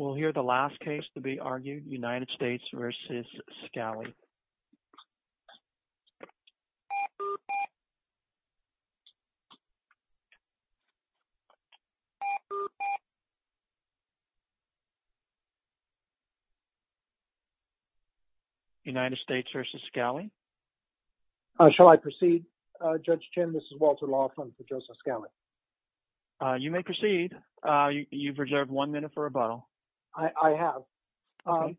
We'll hear the last case to be argued, United States v. Scali. United States v. Scali. Shall I proceed, Judge Chin? This is Walter Laughlin for Joseph Scali. You may proceed. You've reserved one minute for rebuttal. I have. Okay.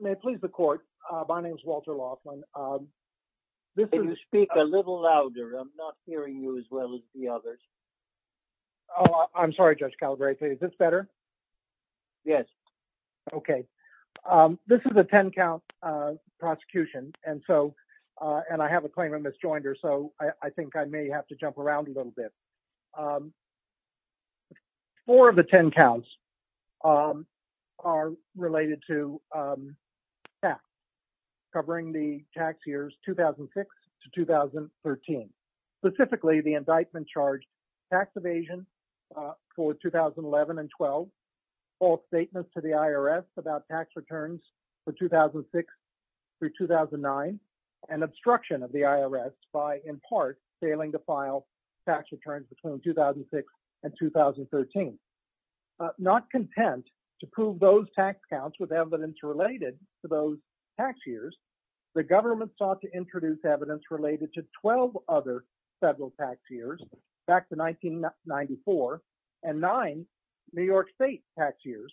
May it please the court, my name is Walter Laughlin. This is... If you speak a little louder, I'm not hearing you as well as the others. Oh, I'm sorry, Judge Calabreta, is this better? Yes. Okay. This is a 10-count prosecution, and so, and I have a claimant misjoined her, so I think I may have to jump around a little bit. Four of the 10 counts are related to tax, covering the tax years 2006 to 2013, specifically the indictment charged tax evasion for 2011 and 12, false statements to the IRS about tax evasion between 2006 and 2013. Not content to prove those tax counts with evidence related to those tax years, the government sought to introduce evidence related to 12 other federal tax years, back to 1994, and nine New York state tax years,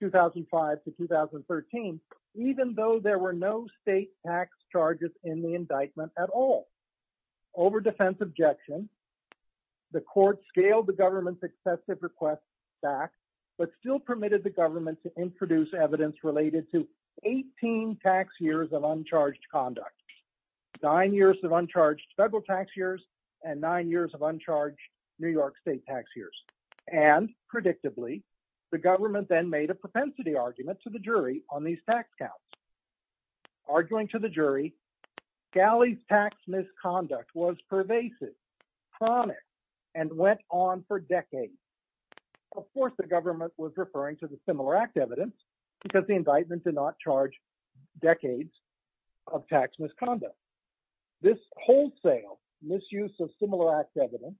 2005 to 2013, even though there were no state tax charges in the indictment at all. Over defense objection, the court scaled the government's excessive request back, but still permitted the government to introduce evidence related to 18 tax years of uncharged conduct, nine years of uncharged federal tax years, and nine years of uncharged New York state tax years, and predictably, the government then made a propensity argument to the jury on these tax counts. Arguing to the jury, Galley's tax misconduct was pervasive, chronic, and went on for decades. Of course, the government was referring to the Similar Act evidence, because the indictment did not charge decades of tax misconduct. This wholesale misuse of Similar Act evidence,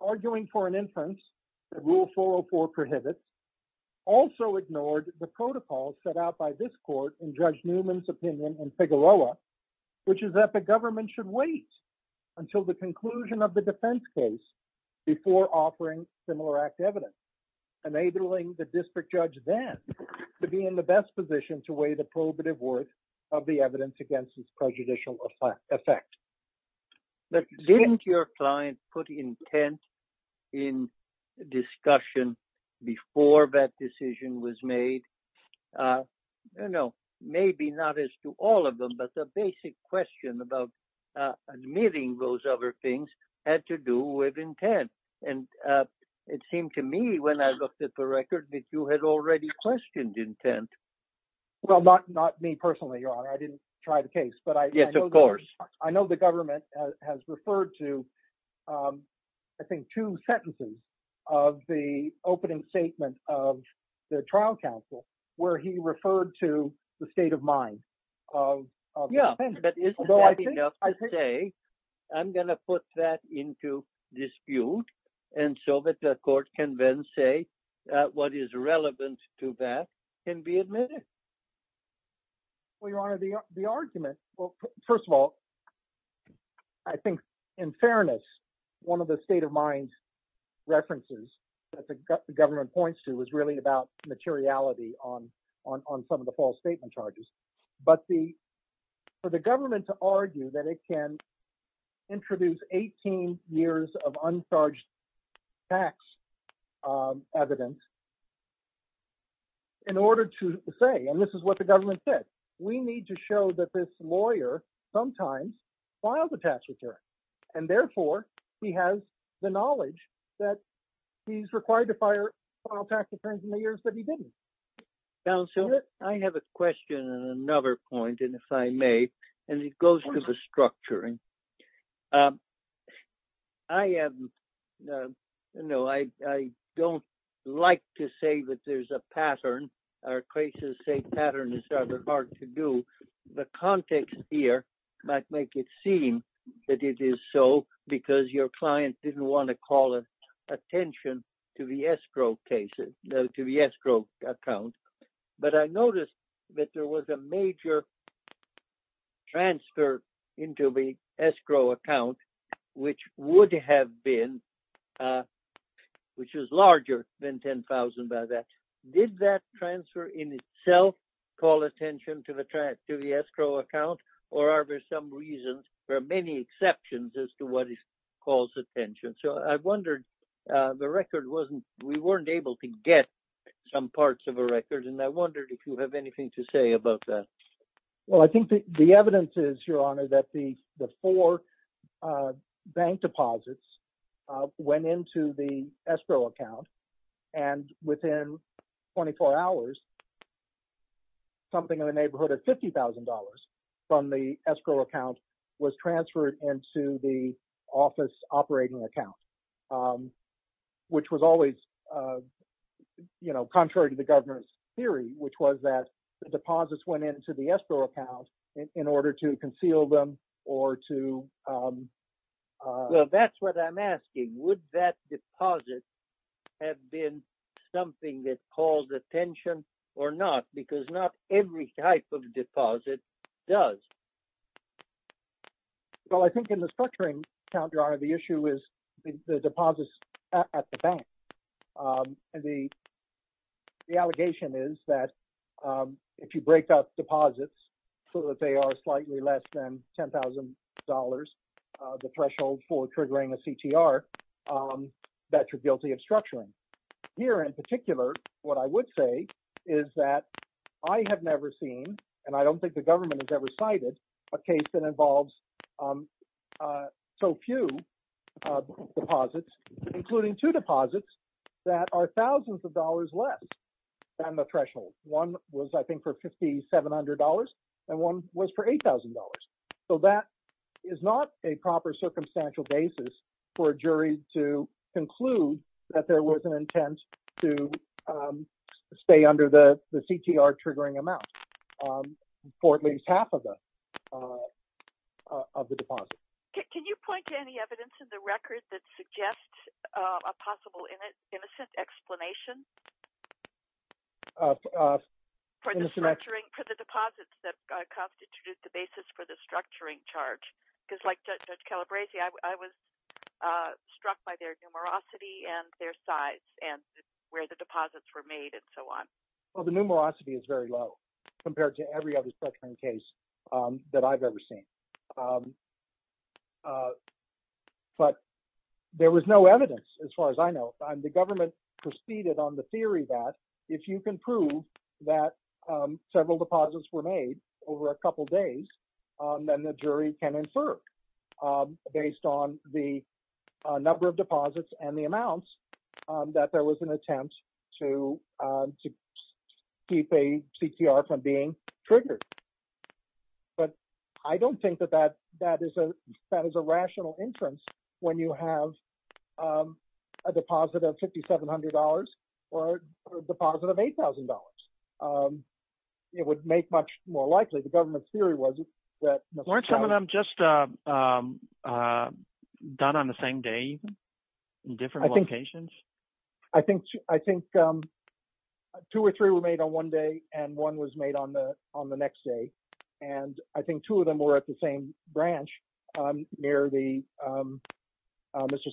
arguing for an inference that Rule 404 prohibits, also ignored the protocol set out by this court in Judge Newman's opinion in Figueroa, which is that the government should wait until the conclusion of the defense case before offering Similar Act evidence, enabling the district judge then to be in the best position to weigh the prohibitive worth of the evidence against its prejudicial effect. But didn't your client put intent in discussion before that decision was made? No, maybe not as to all of them, but the basic question about admitting those other things had to do with intent. And it seemed to me, when I looked at the record, that you had already questioned intent. Well, not me personally, Your Honor, I didn't try the case, but I know the government has referred to, I think, two sentences of the opening statement of the trial counsel, where he referred to the state of mind of the defendant. But isn't that enough to say, I'm going to put that into dispute, and so that the court can then say what is relevant to that can be admitted? Well, Your Honor, the argument, well, first of all, I think, in fairness, one of the state of mind references that the government points to is really about materiality on some of the false statement charges. But for the government to argue that it can introduce 18 years of uncharged tax evidence in order to say, and this is what the government said, we need to show that this lawyer sometimes filed a tax return. And therefore, he has the knowledge that he's required to file tax returns in the years that he didn't. Counsel, I have a question and another point, and if I may, and it goes to the structuring. I am, no, I don't like to say that there's a pattern. Our cases say pattern is rather hard to do. The context here might make it seem that it is so because your client didn't want to call attention to the escrow cases, to the escrow account. But I noticed that there was a major transfer into the escrow account, which would have been, which is larger than $10,000 by that. Did that transfer in itself call attention to the escrow account? Or are there some reasons for many exceptions as to what it calls attention? So I wondered, the record wasn't, we weren't able to get some parts of a record. And I wondered if you have anything to say about that. Well, I think the evidence is, Your Honor, that the four bank deposits went into the escrow account. And within 24 hours, something in the neighborhood of $50,000 from the escrow account was transferred into the office operating account, which was always, you know, contrary to the governor's theory, which was that the deposits went into the escrow account in order to conceal them or to... Well, that's what I'm asking. Would that deposit have been something that called attention or not? Because not every type of deposit does. Well, I think in the structuring count, Your Honor, the issue is the deposits at the bank. And the allegation is that if you break up deposits so that they are slightly less than $10,000, the threshold for triggering a CTR, that you're guilty of structuring. Here in particular, what I would say is that I have never seen, and I don't think the government has ever cited, a case that involves so few deposits, including two deposits that are thousands of dollars less than the threshold. One was, I think, for $5,700, and one was for $8,000. So that is not a proper circumstantial basis for a jury to conclude that there was an intent to stay under the CTR triggering amount for at least half of the deposits. Can you point to any evidence in the record that suggests a possible innocent explanation for the deposits that constitute the basis for the structuring charge? Because like Judge Calabresi, I was struck by their numerosity and their size and where the deposits were made and so on. Well, the numerosity is very low compared to every other structuring case that I've ever seen. But there was no evidence as far as I know. The government proceeded on the theory that if you can prove that several deposits were made over a couple days, then the jury can infer based on the number of deposits and the amounts that there was an attempt to keep a CTR from being triggered. But I don't think that that is a rational inference when you have a deposit of $5,700 or a deposit of $8,000. It would make much more likely. The government's theory was that— Weren't some of them just done on the same day in different locations? I think two or three were made on one day and one was made on the next day. And I think two of them were at the same branch near Mr.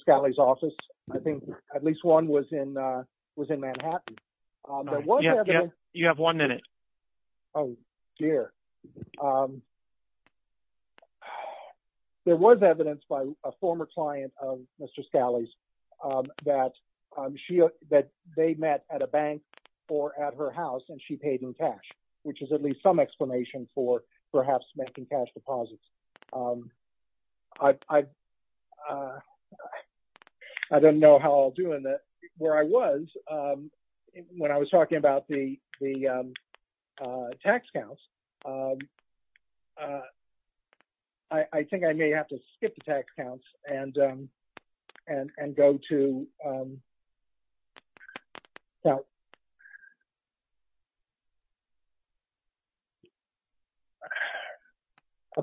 Scali's office. I think at least one was in Manhattan. You have one minute. Oh, dear. There was evidence by a former client of Mr. Scali's that they met at a bank or at her house and she paid in cash, which is at least some explanation for perhaps making cash deposits. I don't know how I'll do in the—where I was when I was talking about the tax counts. I think I may have to skip the tax counts and go to— I'll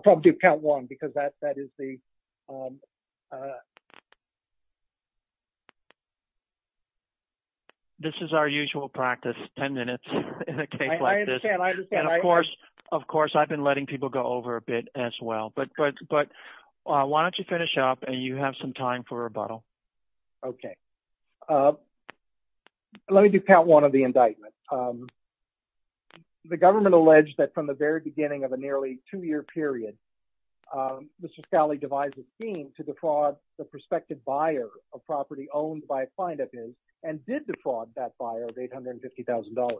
probably do count one because that is the— This is our usual practice, 10 minutes in a case like this. I understand. I understand. And of course, I've been letting people go over a bit as well. But why don't you finish up and you have some time for rebuttal. Okay. Let me do count one. One of the indictments. The government alleged that from the very beginning of a nearly two-year period, Mr. Scali devised a scheme to defraud the prospective buyer of property owned by a client of his and did defraud that buyer of $850,000.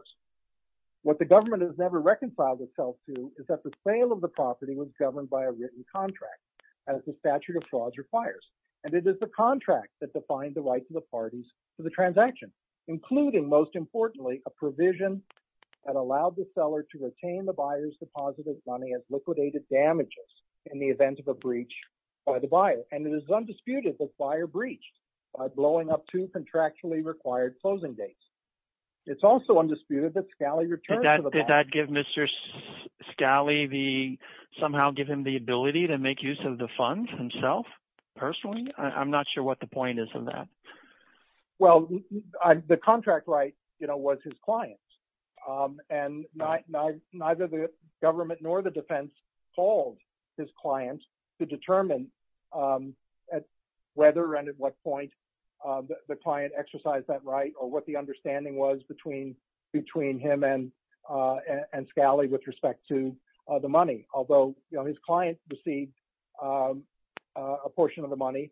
What the government has never reconciled itself to is that the sale of the property was governed by a written contract, as the statute of frauds requires. And it is the contract that defined the rights of the parties to the transaction, including, most importantly, a provision that allowed the seller to retain the buyer's deposited money as liquidated damages in the event of a breach by the buyer. And it is undisputed that the buyer breached by blowing up two contractually required closing dates. It's also undisputed that Scali returned to the— Did that give Mr. Scali the— somehow give him the ability to make use of the funds himself, personally? I'm not sure what the point is of that. Well, the contract right, you know, was his client's. And neither the government nor the defense called his client to determine whether and at what point the client exercised that right or what the understanding was between him and Scali with respect to the money. Although, you know, his client received a portion of the money,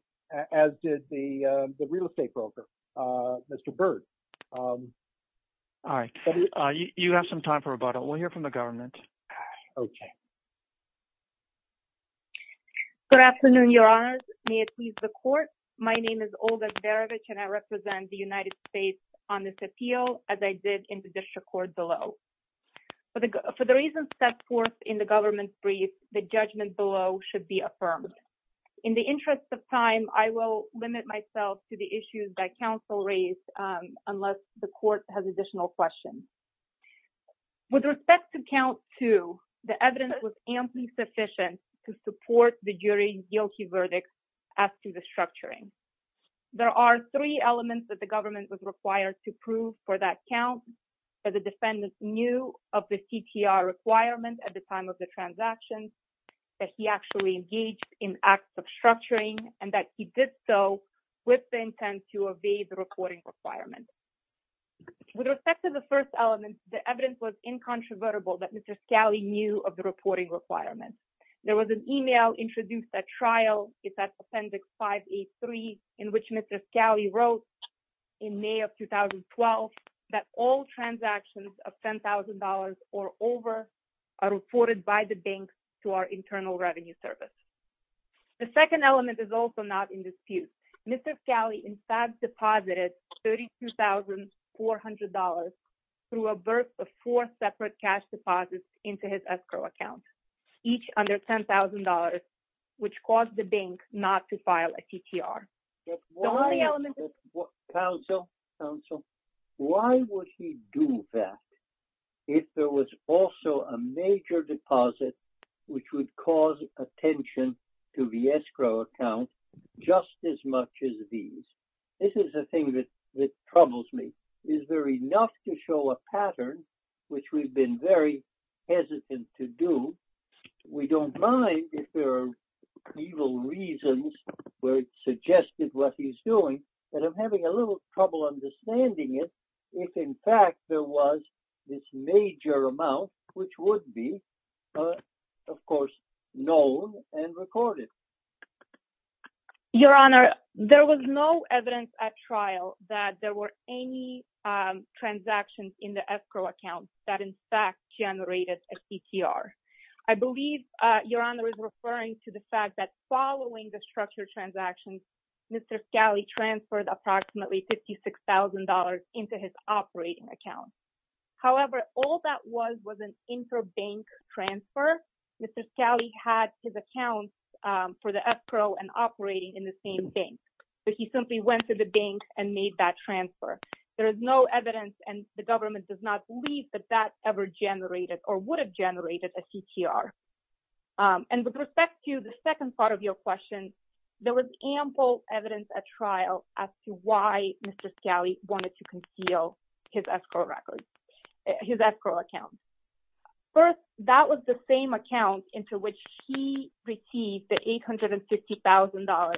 as did the real estate broker, Mr. Byrd. All right. You have some time for rebuttal. We'll hear from the government. Okay. Good afternoon, Your Honors. May it please the court. My name is Olga Berevich, and I represent the United States on this appeal, as I did in the district court below. For the reasons set forth in the government's brief, the judgment below should be affirmed. In the interest of time, I will limit myself to the issues that counsel raised, unless the court has additional questions. With respect to count two, the evidence was amply sufficient to support the jury's guilty verdict as to the structuring. There are three elements that the government was required to prove for that count, that the defendants knew of the CTR requirement at the time of the transaction, that he actually engaged in acts of structuring, and that he did so with the intent to evade the reporting requirement. With respect to the first element, the evidence was incontrovertible that Mr. Scali knew of the reporting requirement. There was an email introduced at trial, it's at Appendix 5A3, in which Mr. Scali wrote in May of 2012, that all transactions of $10,000 or over are reported by the banks to our Internal Revenue Service. The second element is also not in dispute. Mr. Scali, in fact, deposited $32,400 through a burst of four separate cash deposits into his escrow account, each under $10,000, which caused the bank not to file a CTR. The only element... Counsel, counsel, why would he do that if there was also a major deposit which would cause attention to the escrow account just as much as these? This is the thing that troubles me. Is there enough to show a pattern which we've been very hesitant to do? We don't mind if there are evil reasons where it's suggested what he's doing, but I'm having a little trouble understanding it if, in fact, there was this major amount, which would be, of course, known and recorded. Your Honor, there was no evidence at trial that there were any transactions in the escrow account that in fact generated a CTR. I believe Your Honor is referring to the fact that following the structured transactions, Mr. Scali transferred approximately $56,000 into his operating account. However, all that was was an interbank transfer. Mr. Scali had his accounts for the escrow and operating in the same bank, but he simply went to the bank and made that transfer. There is no evidence, and the government does not believe that that ever generated or would have generated a CTR. And with respect to the second part of your question, there was ample evidence at trial as to why Mr. Scali wanted to conceal his escrow records, his escrow account. First, that was the same account into which he received the $850,000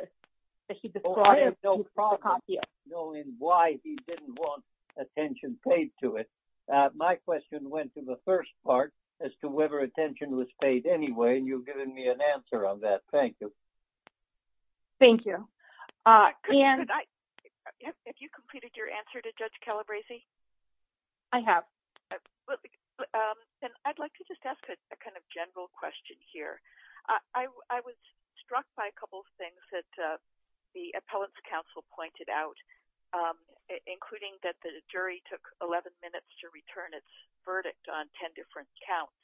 that he described as a fraud appeal. I have no problem knowing why he didn't want attention paid to it. My question went to the first part as to whether attention was paid anyway, and you've given me an answer on that. Thank you. Thank you. Have you completed your answer to Judge Calabresi? I have. And I'd like to just ask a kind of general question here. I was struck by a couple of things that the appellant's counsel pointed out, including that the jury took 11 minutes to return its verdict on 10 different counts,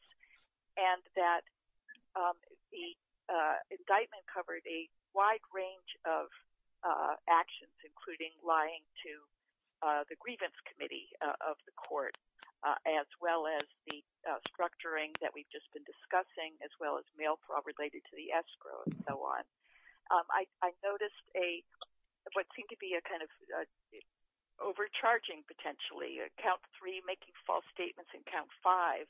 and that the indictment covered a wide range of actions, including lying to the grievance committee of the court, as well as the structuring that we've just been discussing, as well as mail fraud related to the escrow and so on. I noticed what seemed to be a kind of overcharging potentially. Count three, making false statements, and count five,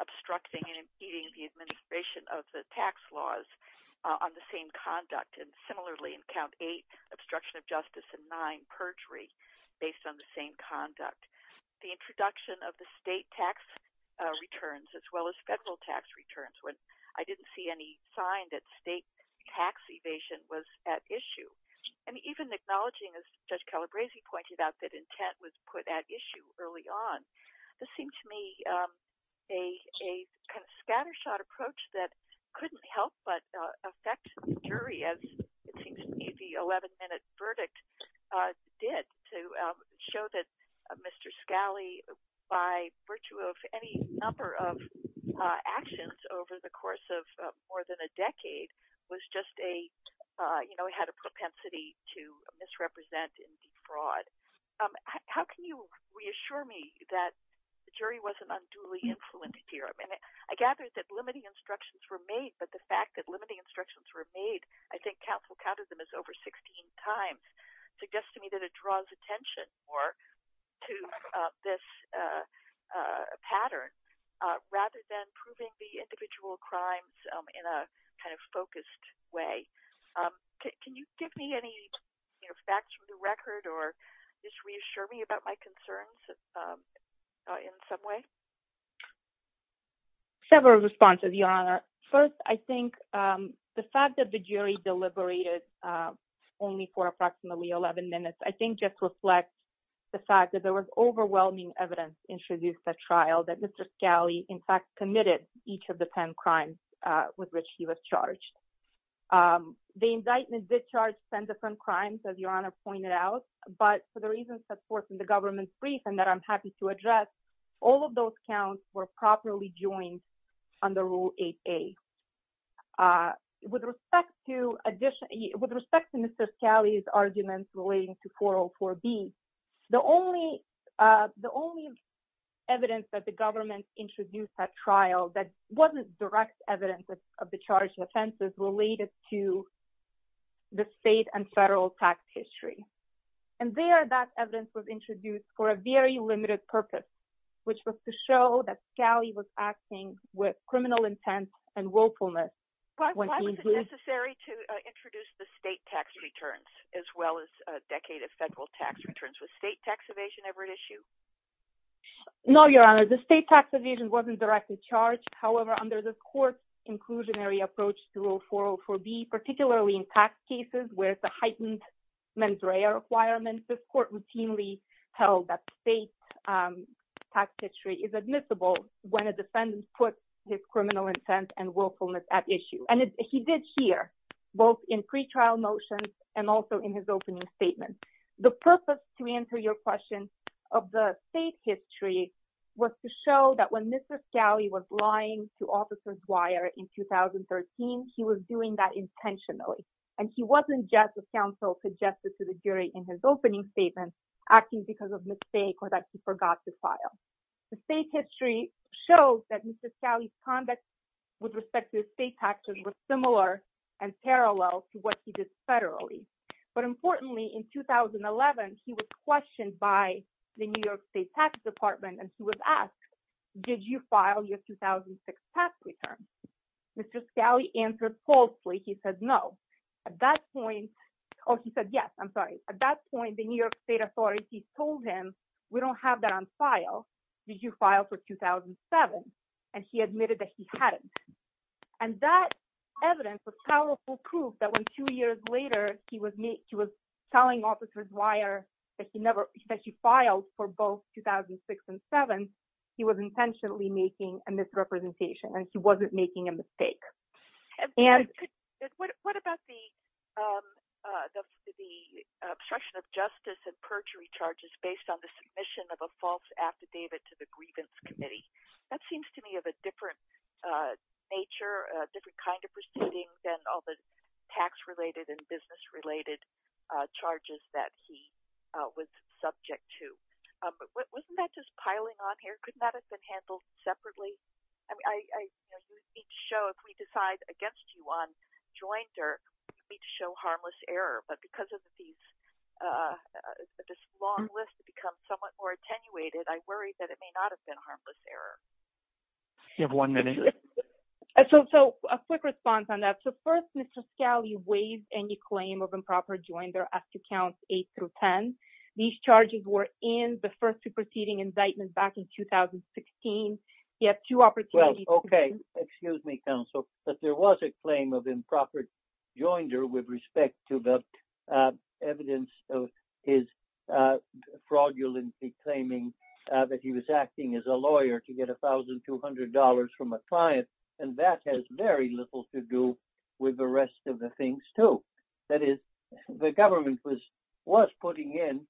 obstructing and impeding the administration of the tax laws on the same conduct. And similarly, in count eight, obstruction of justice, and nine, perjury based on the same conduct. The introduction of the state tax returns, as well as federal tax returns, I didn't see any sign that state tax evasion was at issue. And even acknowledging, as Judge Calabresi pointed out, that intent was put at issue early on. This seemed to me a kind of scattershot approach that couldn't help but affect the jury, as it seems to me the 11-minute verdict did, to show that Mr. Scali, by virtue of any number of actions over the course of more than a decade, was just a, you know, had a propensity to misrepresent and defraud. How can you reassure me that the jury wasn't unduly influenced here? I mean, I gathered that limiting instructions were made, but the fact that limiting instructions were made, I think counsel counted them as over 16 times, suggests to me that it draws attention more to this pattern, rather than proving the individual crimes in a kind of focused way. Can you give me any, you know, facts from the record, or just reassure me about my concerns in some way? Several responses, Your Honor. First, I think the fact that the jury deliberated only for approximately 11 minutes, I think just reflects the fact that there was overwhelming evidence introduced at trial, that Mr. Scali, in fact, committed each of the 10 crimes with which he was charged. The indictment did charge 10 different crimes, as Your Honor pointed out, but for the reasons, of course, in the government's brief, and that I'm happy to address, all of those counts were properly joined under Rule 8A. With respect to Mr. Scali's arguments relating to 404B, the only evidence that the government introduced at trial, that wasn't direct evidence of the charged offenses, related to the state and federal tax history. And there, that evidence was introduced for a very limited purpose, which was to show that Scali was acting with criminal intent and willfulness. Why was it necessary to introduce the state tax returns, as well as a decade of federal tax returns? Was state tax evasion ever at issue? No, Your Honor, the state tax evasion wasn't directly charged. However, under the court's inclusionary approach to Rule 404B, particularly in tax cases where it's a heightened mens rea requirement, this court routinely held that the state tax history is admissible when a defendant puts his criminal intent and willfulness at issue. And he did here, both in pretrial motions and also in his opening statement. The purpose, to answer your question, of the state history was to show that when Mr. Scali was lying to Officer Dwyer in 2013, he was doing that intentionally. And he wasn't just a counsel to justice to the jury in his opening statement, acting because of mistake or that he forgot to file. The state history shows that Mr. Scali's conduct with respect to state taxes was similar and parallel to what he did federally. But importantly, in 2011, he was questioned by the New York State Tax Department and he was asked, did you file your 2006 tax return? Mr. Scali answered falsely. He said, no. At that point, oh, he said, yes, I'm sorry. At that point, the New York State Authority told him, we don't have that on file. Did you file for 2007? And he admitted that he hadn't. And that evidence was powerful proof that when two years later, he was telling Officer Dwyer that he filed for both 2006 and 2007, he was intentionally making a misrepresentation and he wasn't making a mistake. What about the obstruction of justice and perjury charges based on the submission of a false affidavit to the grievance committee? That seems to me of a different nature, a different kind of proceeding than all the tax-related and business-related charges that he was subject to. But wasn't that just piling on here? Couldn't that have been handled separately? I mean, if we decide against you on Joinder, we need to show harmless error. But because of this long list to become somewhat more attenuated, I worry that it may not have been harmless error. You have one minute. So a quick response on that. So first, Mr. Scali waived any claim of improper Joinder after counts 8 through 10. These charges were in the first superseding incitement back in 2016. You have two opportunities. Well, OK. Excuse me, counsel. But there was a claim of improper Joinder with respect to the evidence of his fraudulency claiming that he was acting as a lawyer to get $1,200 from a client. And that has very little to do with the rest of the things, too. That is, the government was putting in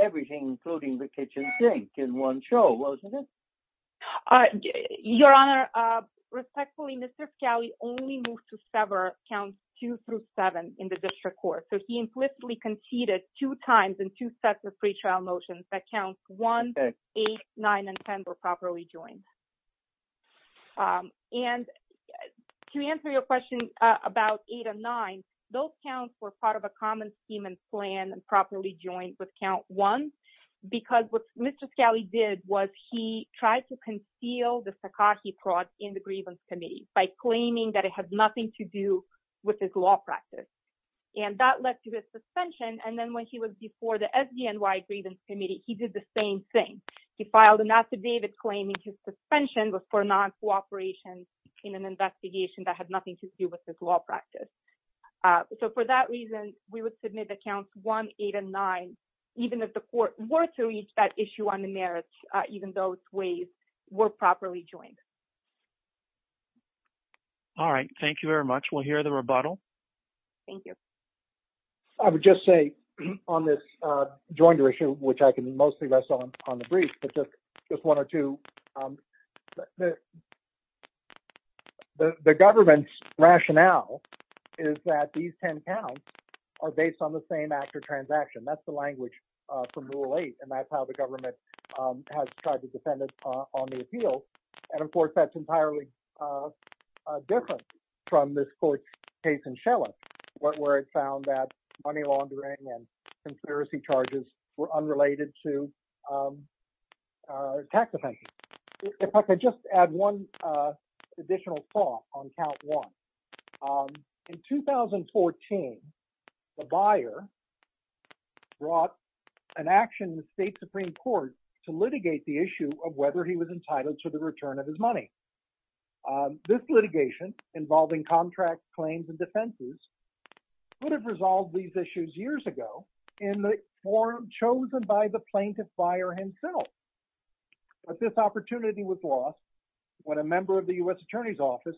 everything, including the kitchen sink, in one show, wasn't it? Your Honor, respectfully, Mr. Scali only moved to sever counts 2 through 7 in the district court. So he implicitly conceded two times in two sets of pretrial motions that counts 1, 8, 9, and 10 were properly joined. And to answer your question about 8 and 9, those counts were part of a common scheme and plan and properly joined with count 1. Because what Mr. Scali did was he tried to conceal the Sakaki fraud in the grievance committee by claiming that it had nothing to do with his law practice. And that led to his suspension. And then when he was before the SDNY grievance committee, he did the same thing. He filed an affidavit claiming his suspension was for non-cooperation in an investigation that had nothing to do with his law practice. So for that reason, we would submit the counts 1, 8, and 9, even if the court were to reach that issue on the merits, even those ways were properly joined. All right. Thank you very much. We'll hear the rebuttal. Thank you. I would just say on this joinder issue, which I can mostly rest on the brief, but just one or two. The government's rationale is that these 10 counts are based on the same after transaction. That's the language from Rule 8. And that's how the government has tried to defend it on the appeal. And of course, that's entirely different from this court case in Shella, where it found that money laundering and conspiracy charges were unrelated to tax offenses. If I could just add one additional thought on count 1. In 2014, the buyer brought an action in the state Supreme Court to litigate the issue of whether he was entitled to the return of his money. This litigation involving contracts, claims, and defenses would have resolved these issues years ago in the form chosen by the plaintiff buyer himself. But this opportunity was lost when a member of the U.S. Attorney's Office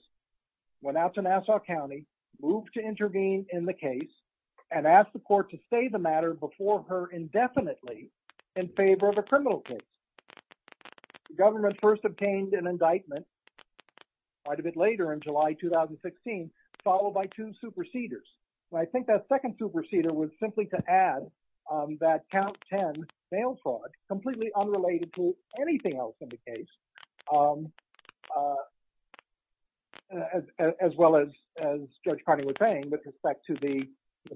went out to Nassau County, moved to intervene in the case, and asked the court to say the matter before her indefinitely in favor of a criminal case. The government first obtained an indictment quite a bit later in July 2016, followed by two superseders. I think that second superseder was simply to add that count 10 mail fraud, completely unrelated to anything else in the case, as well as Judge Carney was saying with respect to the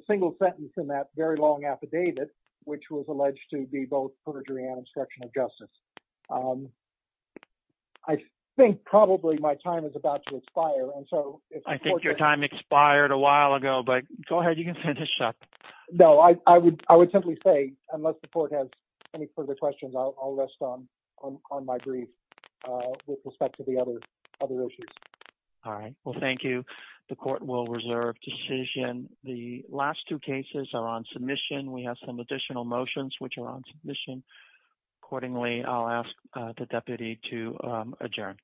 single sentence in that very long affidavit, which was alleged to be both perjury and obstruction of justice. I think probably my time is about to expire. And so I think your time expired a while ago, but go ahead. You can finish up. No, I would simply say, unless the court has any further questions, I'll rest on my brief with respect to the other issues. All right. Well, thank you. The court will reserve decision. The last two cases are on submission. We have some additional motions which are on submission. Accordingly, I'll ask the deputy to adjourn.